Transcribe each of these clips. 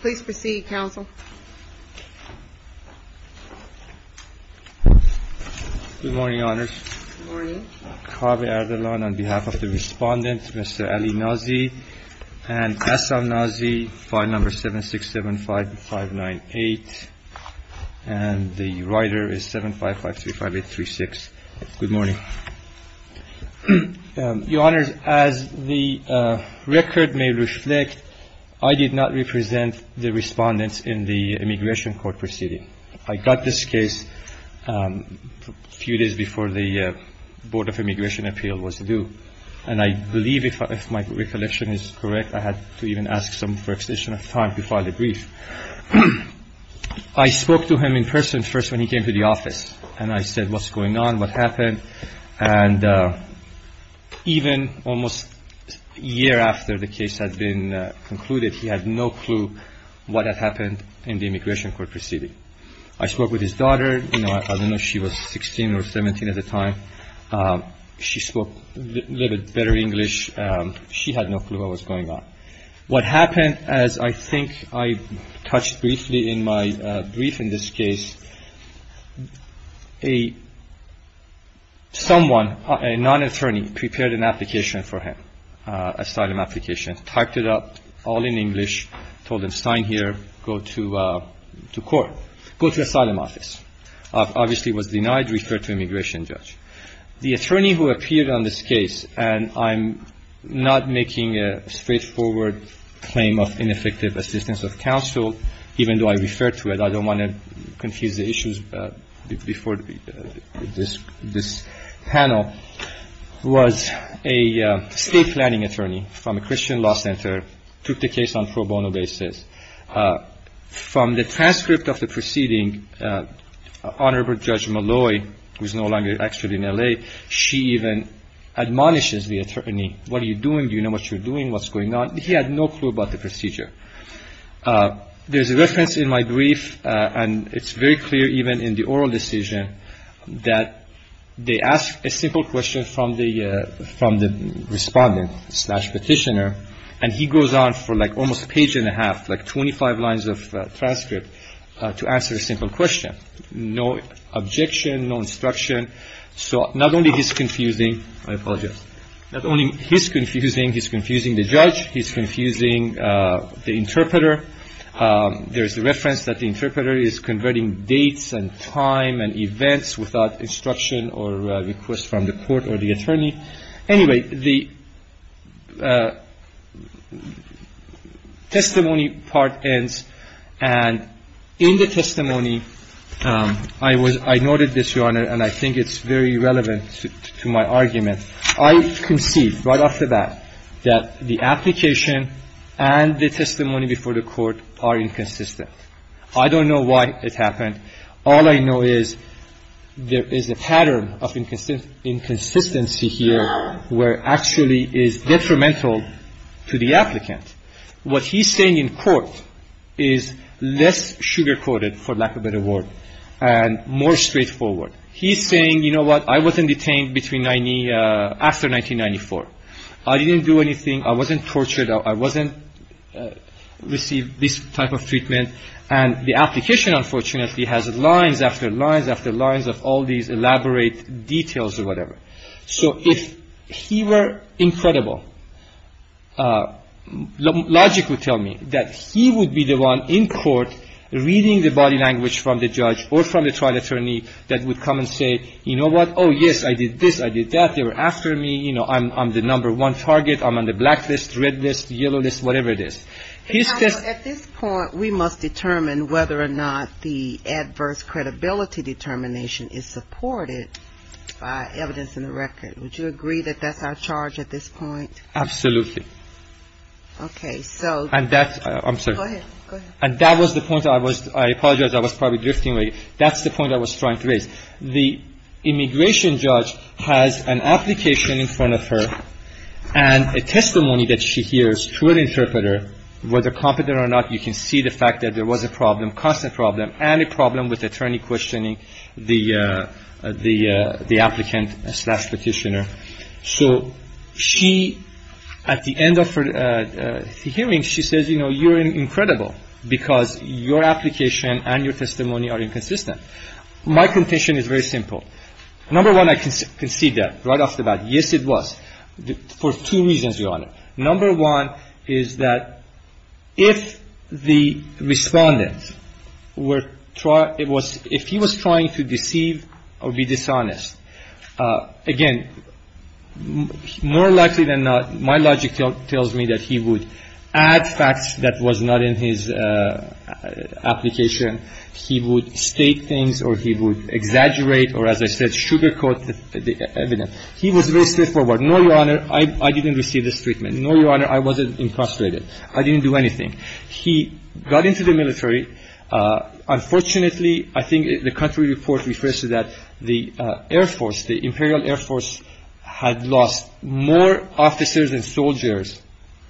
Please proceed, Counsel. Good morning, Your Honors. Good morning. Kaveh Erdalan, on behalf of the Respondents, Mr. Ali Nazi and Assam Nazi, File No. 7675598. And the writer is 75535836. Good morning. Your Honors, as the record may reflect, I did not represent the Respondents in the Immigration Court proceeding. I got this case a few days before the Board of Immigration Appeal was due. And I believe, if my recollection is correct, I had to even ask some flexition of time to file the brief. I spoke to him in person first when he came to the office. And I said, what's going on, what happened? And even almost a year after the case had been concluded, he had no clue what had happened in the Immigration Court proceeding. I spoke with his daughter. I don't know if she was 16 or 17 at the time. She spoke a little bit better English. She had no clue what was going on. What happened, as I think I touched briefly in my brief in this case, someone, a non-attorney, prepared an application for him, asylum application, typed it up all in English, told him sign here, go to court, go to asylum office. Obviously was denied, referred to immigration judge. The attorney who appeared on this case, and I'm not making a straightforward claim of ineffective assistance of counsel, even though I refer to it, I don't want to confuse the issues before this panel, was a state planning attorney from a Christian law center, took the case on pro bono basis. From the transcript of the proceeding, Honorable Judge Malloy, who is no longer actually in L.A., she even admonishes the attorney, what are you doing? Do you know what you're doing? What's going on? He had no clue about the procedure. There's a reference in my brief, and it's very clear even in the oral decision, that they ask a simple question from the respondent slash petitioner, and he goes on for like almost a page and a half, like 25 lines of transcript, to answer a simple question. No objection, no instruction. So not only he's confusing, I apologize, not only he's confusing, he's confusing the judge, he's confusing the interpreter. There's a reference that the interpreter is converting dates and time and events without instruction or request from the court or the attorney. Anyway, the testimony part ends, and in the testimony, I noted this, Your Honor, and I think it's very relevant to my argument. I concede right off the bat that the application and the testimony before the court are inconsistent. I don't know why it happened. All I know is there is a pattern of inconsistency here where actually is detrimental to the applicant. What he's saying in court is less sugar-coated, for lack of a better word, and more straightforward. He's saying, you know what, I wasn't detained after 1994. I didn't do anything. I wasn't tortured. I wasn't received this type of treatment. And the application, unfortunately, has lines after lines after lines of all these elaborate details or whatever. So if he were incredible, logic would tell me that he would be the one in court reading the body language from the judge or from the trial attorney that would come and say, you know what, oh, yes, I did this, I did that. They were after me. You know, I'm the number one target. I'm on the black list, red list, yellow list, whatever it is. He's just ‑‑ At this point, we must determine whether or not the adverse credibility determination is supported by evidence in the record. Would you agree that that's our charge at this point? Absolutely. Okay. So ‑‑ And that's ‑‑ I'm sorry. Go ahead. Go ahead. And that was the point I was ‑‑ I apologize. I was probably drifting away. That's the point I was trying to raise. The immigration judge has an application in front of her and a testimony that she hears through an interpreter. Whether competent or not, you can see the fact that there was a problem, constant problem, and a problem with attorney questioning the applicant slash Petitioner. So she, at the end of her hearing, she says, you know, you're incredible because your application and your testimony are inconsistent. My contention is very simple. Number one, I can see that right off the bat. Yes, it was. For two reasons, Your Honor. Number one is that if the respondent were ‑‑ if he was trying to deceive or be dishonest, again, more likely than not, my logic tells me that he would add facts that was not in his application. He would state things or he would exaggerate or, as I said, sugarcoat the evidence. He was very straightforward. No, Your Honor, I didn't receive this treatment. No, Your Honor, I wasn't incarcerated. He got into the military. Unfortunately, I think the country report refers to that the Air Force, the Imperial Air Force, had lost more officers and soldiers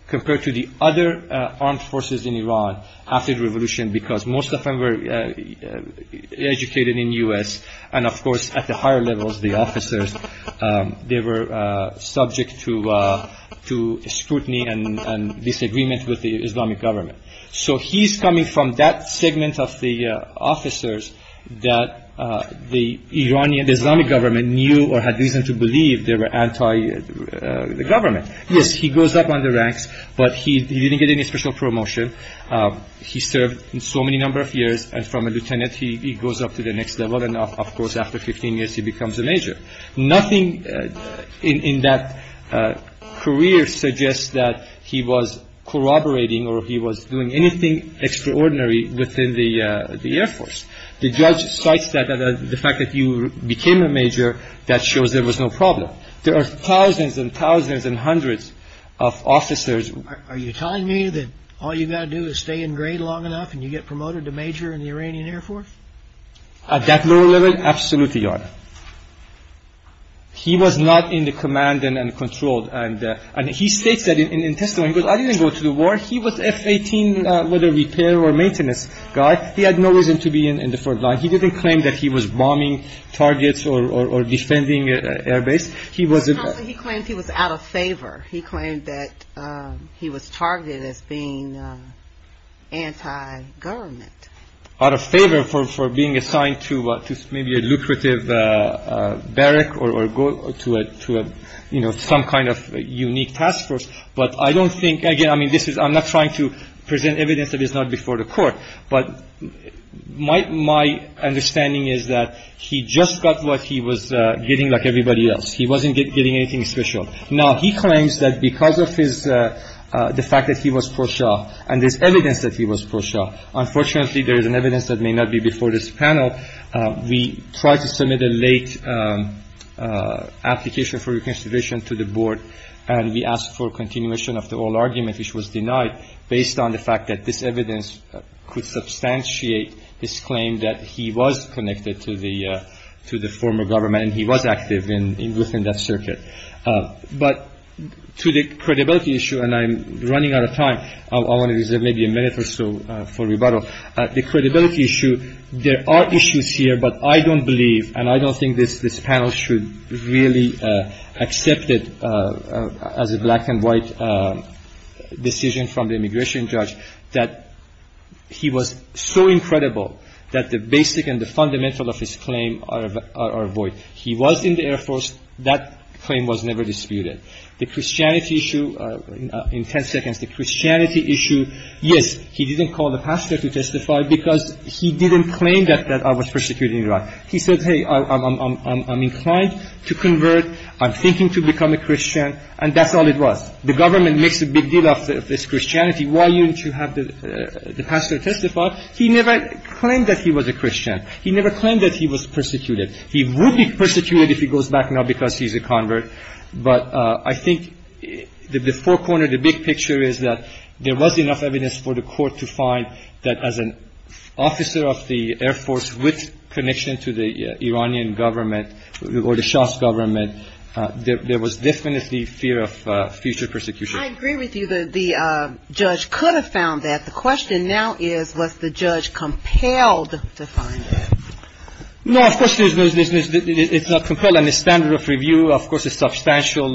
compared to the other armed forces in Iran after the revolution because most of them were educated in the U.S. and, of course, at the higher levels, the officers, they were subject to scrutiny and disagreement with the Islamic government. So he's coming from that segment of the officers that the Iranian, Islamic government knew or had reason to believe they were anti‑government. Yes, he goes up on the ranks, but he didn't get any special promotion. He served so many number of years and from a lieutenant he goes up to the next level and, of course, after 15 years he becomes a major. Nothing in that career suggests that he was corroborating or he was doing anything extraordinary within the Air Force. The judge cites the fact that you became a major that shows there was no problem. There are thousands and thousands and hundreds of officers. Are you telling me that all you've got to do is stay in grade long enough and you get promoted to major in the Iranian Air Force? At that level, absolutely, Your Honor. He was not in the command and controlled. And he states that in testimony. He goes, I didn't go to the war. He was F‑18, whether repair or maintenance guy. He had no reason to be in the front line. He didn't claim that he was bombing targets or defending air base. He claimed he was out of favor. He claimed that he was targeted as being anti‑government. Out of favor for being assigned to maybe a lucrative barrack or go to some kind of unique task force. But I don't think, again, I'm not trying to present evidence that it's not before the court, but my understanding is that he just got what he was getting like everybody else. He wasn't getting anything special. Now, he claims that because of the fact that he was pro shah and there's evidence that he was pro shah, unfortunately there is an evidence that may not be before this panel. We tried to submit a late application for reconsideration to the board, and we asked for continuation of the oral argument, which was denied based on the fact that this evidence could substantiate his claim that he was connected to the former government, and he was active within that circuit. But to the credibility issue, and I'm running out of time. I want to reserve maybe a minute or so for rebuttal. The credibility issue, there are issues here, but I don't believe and I don't think this panel should really accept it as a black and white decision from the immigration judge that he was so incredible that the basic and the fundamental of his claim are void. He was in the Air Force. That claim was never disputed. The Christianity issue, in ten seconds, the Christianity issue, yes, he didn't call the pastor to testify because he didn't claim that I was persecuted in Iraq. He said, hey, I'm inclined to convert. I'm thinking to become a Christian, and that's all it was. The government makes a big deal of this Christianity. Why don't you have the pastor testify? He never claimed that he was a Christian. He never claimed that he was persecuted. He would be persecuted if he goes back now because he's a convert. But I think the forecorner, the big picture is that there was enough evidence for the court to find that as an officer of the Air Force with connection to the Iranian government or the Shas government, there was definitely fear of future persecution. I agree with you that the judge could have found that. The question now is was the judge compelled to find that? No, of course it's not compelled. And the standard of review, of course, is a substantial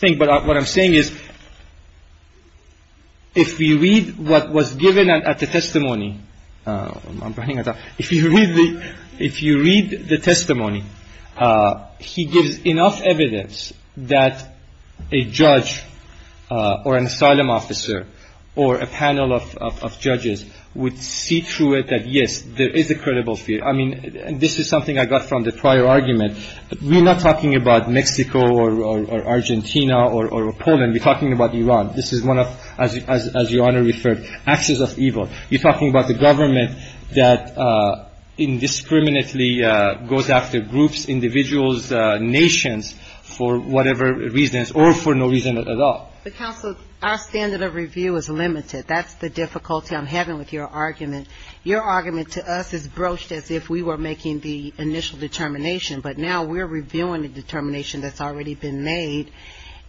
thing. But what I'm saying is if you read what was given at the testimony, if you read the testimony, he gives enough evidence that a judge or an asylum officer or a panel of judges would see through it that, yes, there is a credible fear. I mean, this is something I got from the prior argument. We're not talking about Mexico or Argentina or Poland. We're talking about Iran. This is one of, as Your Honor referred, acts of evil. You're talking about the government that indiscriminately goes after groups, individuals, nations for whatever reasons or for no reason at all. But, Counselor, our standard of review is limited. That's the difficulty I'm having with your argument. Your argument to us is broached as if we were making the initial determination. But now we're reviewing the determination that's already been made,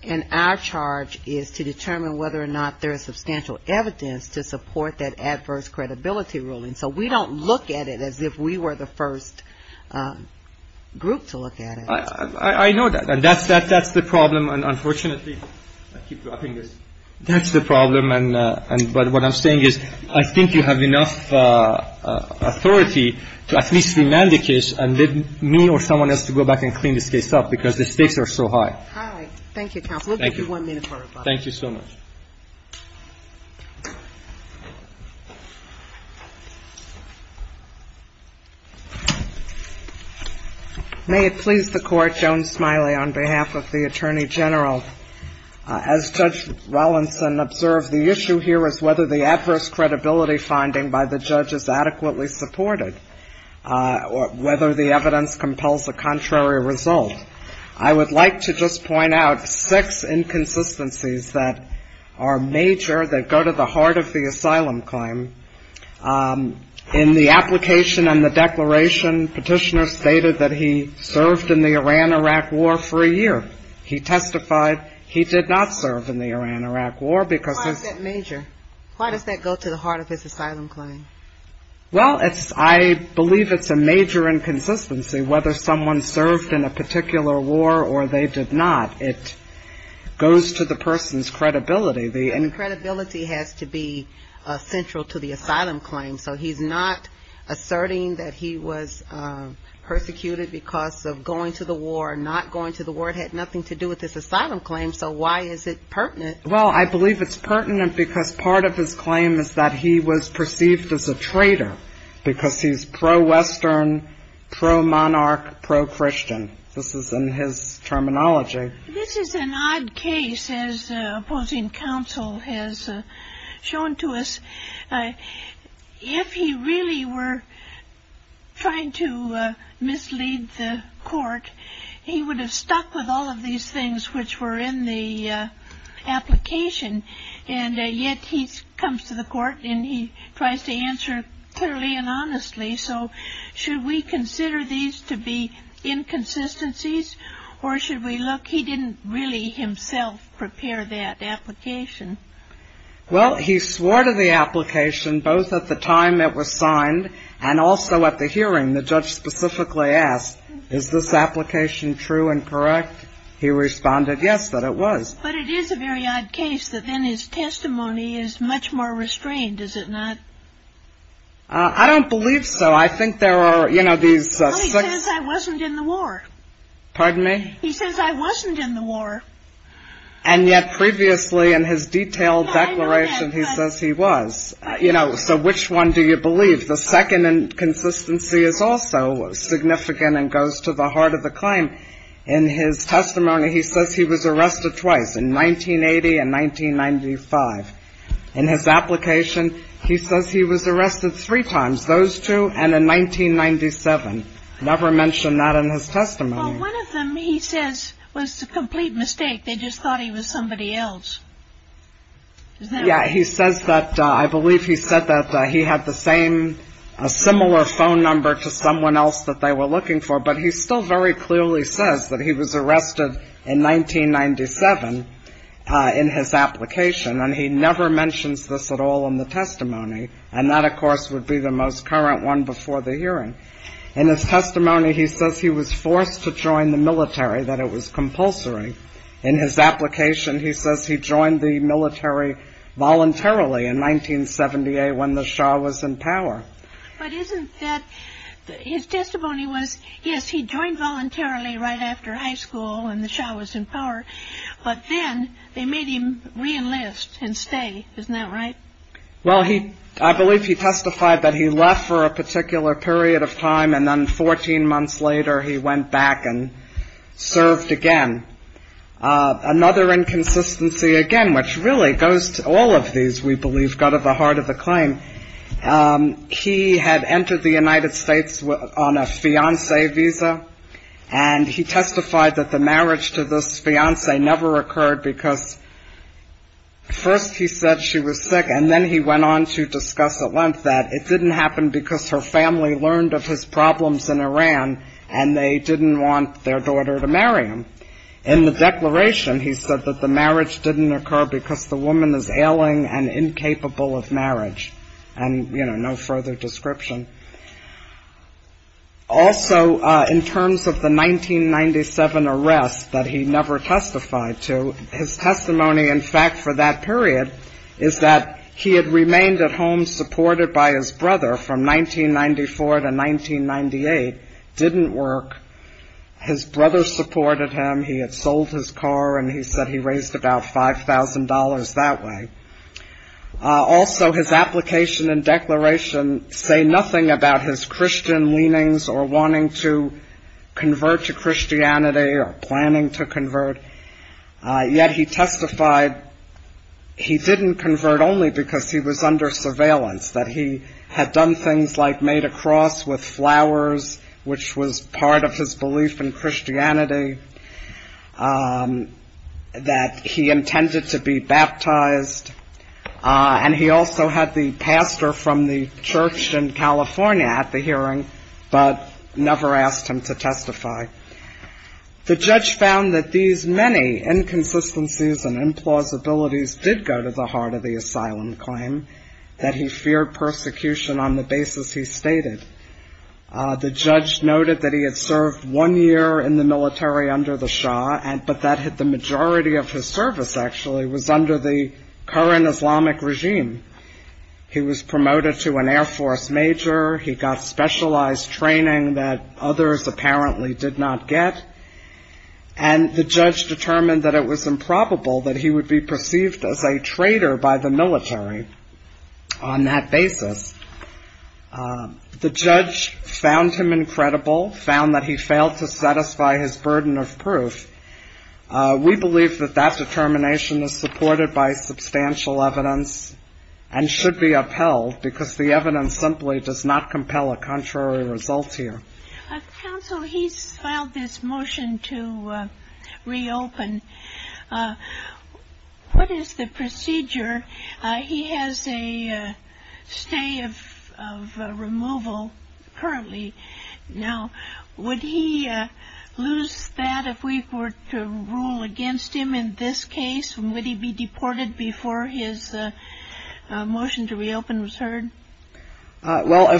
and our charge is to determine whether or not there is substantial evidence to support that adverse credibility ruling. So we don't look at it as if we were the first group to look at it. I know that. That's the problem. That's the problem. And what I'm saying is I think you have enough authority to at least remand the case and then me or someone else to go back and clean this case up because the stakes are so high. All right. Thank you, Counselor. We'll give you one minute for rebuttal. Thank you so much. May it please the Court, Joan Smiley, on behalf of the Attorney General. As Judge Rollinson observed, the issue here is whether the adverse credibility finding by the judge is adequately supported or whether the evidence compels a contrary result. I would like to just point out six inconsistencies that are major that go to the heart of the asylum claim. In the application and the declaration, Petitioner stated that he served in the Iran-Iraq War for a year. He testified he did not serve in the Iran-Iraq War because of his. Why is that major? Why does that go to the heart of his asylum claim? Well, I believe it's a major inconsistency whether someone served in a particular war or they did not. It goes to the person's credibility. And credibility has to be central to the asylum claim. So he's not asserting that he was persecuted because of going to the war, not going to the war. It had nothing to do with his asylum claim, so why is it pertinent? Well, I believe it's pertinent because part of his claim is that he was perceived as a traitor because he's pro-Western, pro-monarch, pro-Christian. This is in his terminology. This is an odd case, as opposing counsel has shown to us. If he really were trying to mislead the court, he would have stuck with all of these things which were in the application, and yet he comes to the court and he tries to answer clearly and honestly. So should we consider these to be inconsistencies, or should we look? He didn't really himself prepare that application. Well, he swore to the application both at the time it was signed and also at the hearing. The judge specifically asked, is this application true and correct? He responded, yes, that it was. But it is a very odd case that then his testimony is much more restrained, is it not? I don't believe so. I think there are, you know, these six. No, he says I wasn't in the war. Pardon me? He says I wasn't in the war. And yet previously in his detailed declaration, he says he was. You know, so which one do you believe? The second inconsistency is also significant and goes to the heart of the claim. In his testimony, he says he was arrested twice, in 1980 and 1995. In his application, he says he was arrested three times, those two and in 1997. Never mentioned that in his testimony. Well, one of them, he says, was a complete mistake. They just thought he was somebody else. Yeah, he says that. I believe he said that he had the same, a similar phone number to someone else that they were looking for. But he still very clearly says that he was arrested in 1997 in his application. And he never mentions this at all in the testimony. And that, of course, would be the most current one before the hearing. In his testimony, he says he was forced to join the military, that it was compulsory. In his application, he says he joined the military voluntarily in 1978 when the Shah was in power. But isn't that, his testimony was, yes, he joined voluntarily right after high school when the Shah was in power. But then they made him reenlist and stay. Isn't that right? Well, he, I believe he testified that he left for a particular period of time and then 14 months later he went back and served again. Another inconsistency, again, which really goes to all of these, we believe, got to the heart of the claim. He had entered the United States on a fiancé visa. And he testified that the marriage to this fiancé never occurred because first he said she was sick, and then he went on to discuss at length that it didn't happen because her family learned of his problems in Iran and they didn't want their daughter to marry him. In the declaration, he said that the marriage didn't occur because the woman is ailing and incapable of marriage. And, you know, no further description. Also, in terms of the 1997 arrest that he never testified to, his testimony, in fact, for that period, is that he had remained at home supported by his brother from 1994 to 1998, didn't work. His brother supported him. He had sold his car, and he said he raised about $5,000 that way. Also, his application and declaration say nothing about his Christian leanings or wanting to convert to Christianity or planning to convert. Yet he testified he didn't convert only because he was under surveillance, that he had done things like made a cross with flowers, which was part of his belief in Christianity, that he intended to be baptized, and he also had the pastor from the church in California at the hearing, but never asked him to testify. The judge found that these many inconsistencies and implausibilities did go to the heart of the asylum claim, that he feared persecution on the basis he stated. The judge noted that he had served one year in the military under the Shah, but that the majority of his service, actually, was under the current Islamic regime. He was promoted to an Air Force major. He got specialized training that others apparently did not get, and the judge determined that it was improbable that he would be perceived as a traitor by the military on that basis. The judge found him incredible, found that he failed to satisfy his burden of proof. We believe that that determination is supported by substantial evidence and should be upheld, because the evidence simply does not compel a contrary result here. Counsel, he's filed this motion to reopen. What is the procedure? He has a stay of removal currently. Now, would he lose that if we were to rule against him in this case? Would he be deported before his motion to reopen was heard? Well,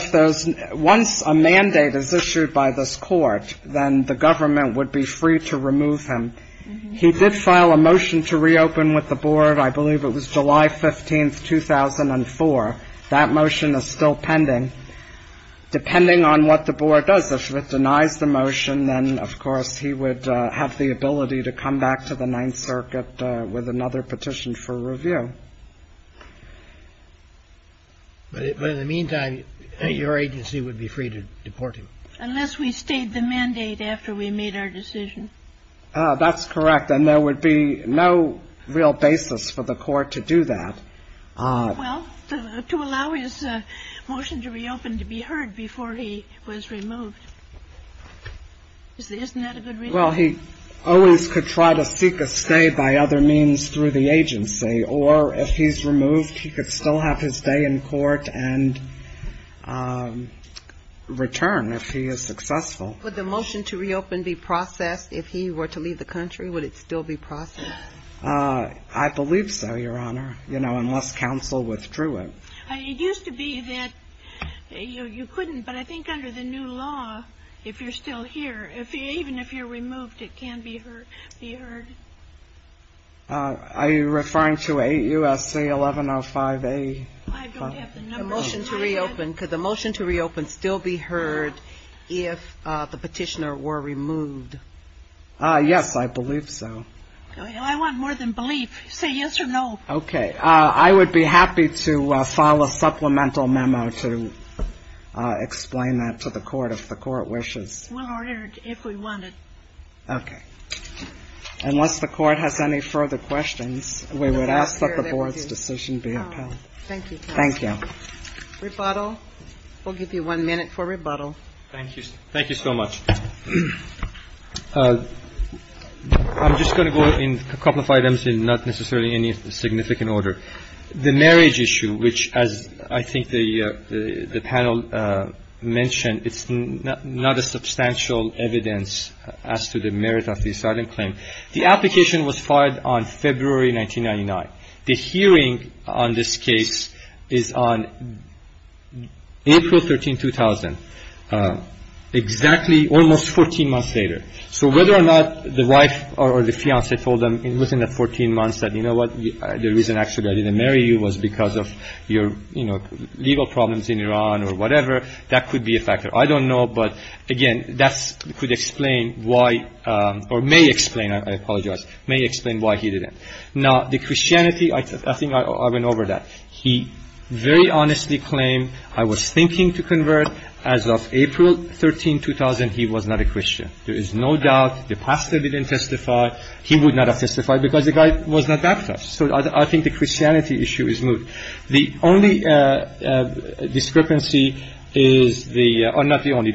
once a mandate is issued by this court, then the government would be free to remove him. He did file a motion to reopen with the board. I believe it was July 15th, 2004. That motion is still pending. Depending on what the board does, if it denies the motion, then, of course, he would have the ability to come back to the Ninth Circuit with another petition for review. But in the meantime, your agency would be free to deport him. Unless we stayed the mandate after we made our decision. That's correct. And there would be no real basis for the court to do that. Well, to allow his motion to reopen to be heard before he was removed, isn't that a good reason? Well, he always could try to seek a stay by other means through the agency. Or if he's removed, he could still have his stay in court and return if he is successful. Would the motion to reopen be processed if he were to leave the country? Would it still be processed? I believe so, Your Honor. You know, unless counsel withdrew it. It used to be that you couldn't. But I think under the new law, if you're still here, even if you're removed, it can be heard. Are you referring to 8 U.S.C. 1105A? I don't have the number. The motion to reopen. Could the motion to reopen still be heard if the petitioner were removed? Yes, I believe so. I want more than belief. Say yes or no. Okay. I would be happy to file a supplemental memo to explain that to the court if the court wishes. We'll order it if we want it. Okay. Unless the court has any further questions, we would ask that the board's decision be upheld. Thank you. Thank you. Rebuttal. We'll give you one minute for rebuttal. Thank you. Thank you so much. I'm just going to go in a couple of items in not necessarily any significant order. The marriage issue, which, as I think the panel mentioned, it's not a substantial evidence as to the merit of the asylum claim. The application was filed on February 1999. The hearing on this case is on April 13, 2000, exactly almost 14 months later. So whether or not the wife or the fiancé told them within the 14 months that, you know what, the reason actually I didn't marry you was because of your legal problems in Iran or whatever, that could be a factor. I don't know, but, again, that could explain why, or may explain, I apologize, may explain why he didn't. Now, the Christianity, I think I went over that. He very honestly claimed I was thinking to convert. As of April 13, 2000, he was not a Christian. There is no doubt the pastor didn't testify. He would not have testified because the guy was not baptized. So I think the Christianity issue is moved. The only discrepancy is the or not the only.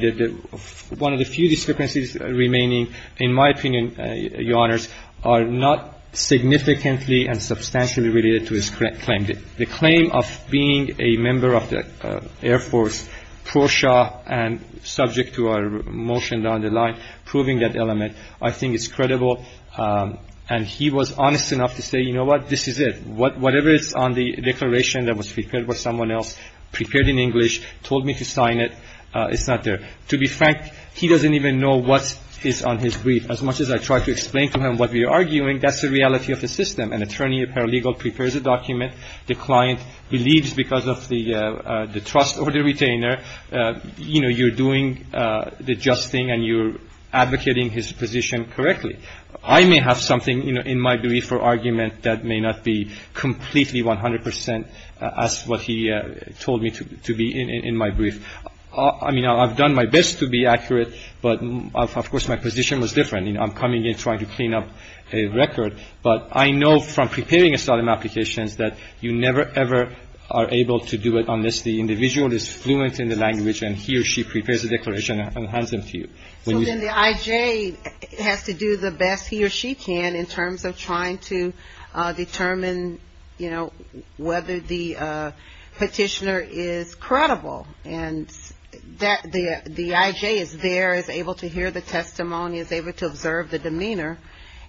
One of the few discrepancies remaining, in my opinion, Your Honors, are not significantly and substantially related to his claim. The claim of being a member of the Air Force, ProShaw, and subject to our motion down the line, proving that element, I think is credible. And he was honest enough to say, you know what, this is it. Whatever is on the declaration that was prepared by someone else, prepared in English, told me to sign it, it's not there. To be frank, he doesn't even know what is on his brief. As much as I try to explain to him what we are arguing, that's the reality of the system. An attorney, a paralegal, prepares a document. The client believes because of the trust or the retainer, you know, you're doing the just thing and you're advocating his position correctly. I may have something, you know, in my brief or argument that may not be completely 100 percent as what he told me to be in my brief. I mean, I've done my best to be accurate, but, of course, my position was different. I'm coming in trying to clean up a record. But I know from preparing asylum applications that you never, ever are able to do it unless the individual is fluent in the language and he or she prepares a declaration and hands them to you. So then the IJ has to do the best he or she can in terms of trying to determine, you know, whether the petitioner is credible. And the IJ is there, is able to hear the testimony, is able to observe the demeanor.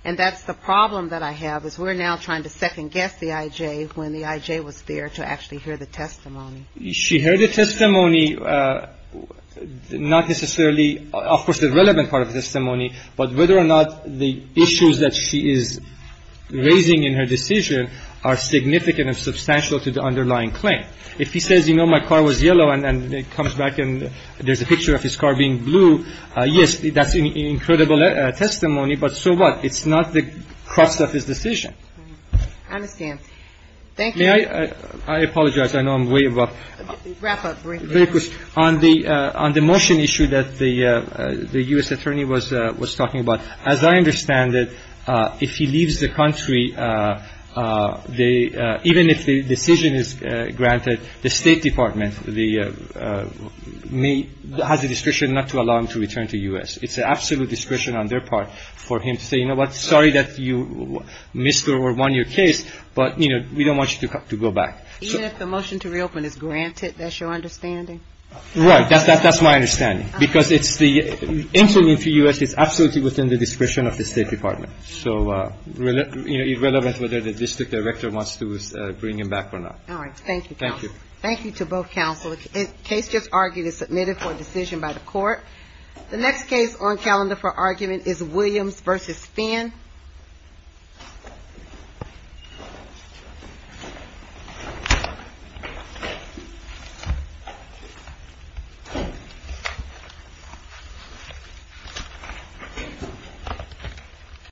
And that's the problem that I have is we're now trying to second-guess the IJ when the IJ was there to actually hear the testimony. She heard the testimony, not necessarily, of course, the relevant part of the testimony, but whether or not the issues that she is raising in her decision are significant and substantial to the underlying claim. If he says, you know, my car was yellow, and then comes back and there's a picture of his car being blue, yes, that's incredible testimony. But so what? It's not the crux of his decision. Kagan. I understand. Thank you. May I apologize? I know I'm way above. Wrap up. Very good. On the motion issue that the U.S. attorney was talking about, as I understand it, if he leaves the country, even if the decision is granted, the State Department has a discretion not to allow him to return to U.S. It's an absolute discretion on their part for him to say, you know what, sorry that you missed or won your case, but, you know, we don't want you to go back. Even if the motion to reopen is granted, that's your understanding? Right. That's my understanding. Because it's the entry into U.S. is absolutely within the discretion of the State Department. So, you know, it's relevant whether the district director wants to bring him back or not. All right. Thank you. Thank you. Thank you to both counsel. The case just argued is submitted for decision by the court. The next case on calendar for argument is Williams v. Finn. Thank you.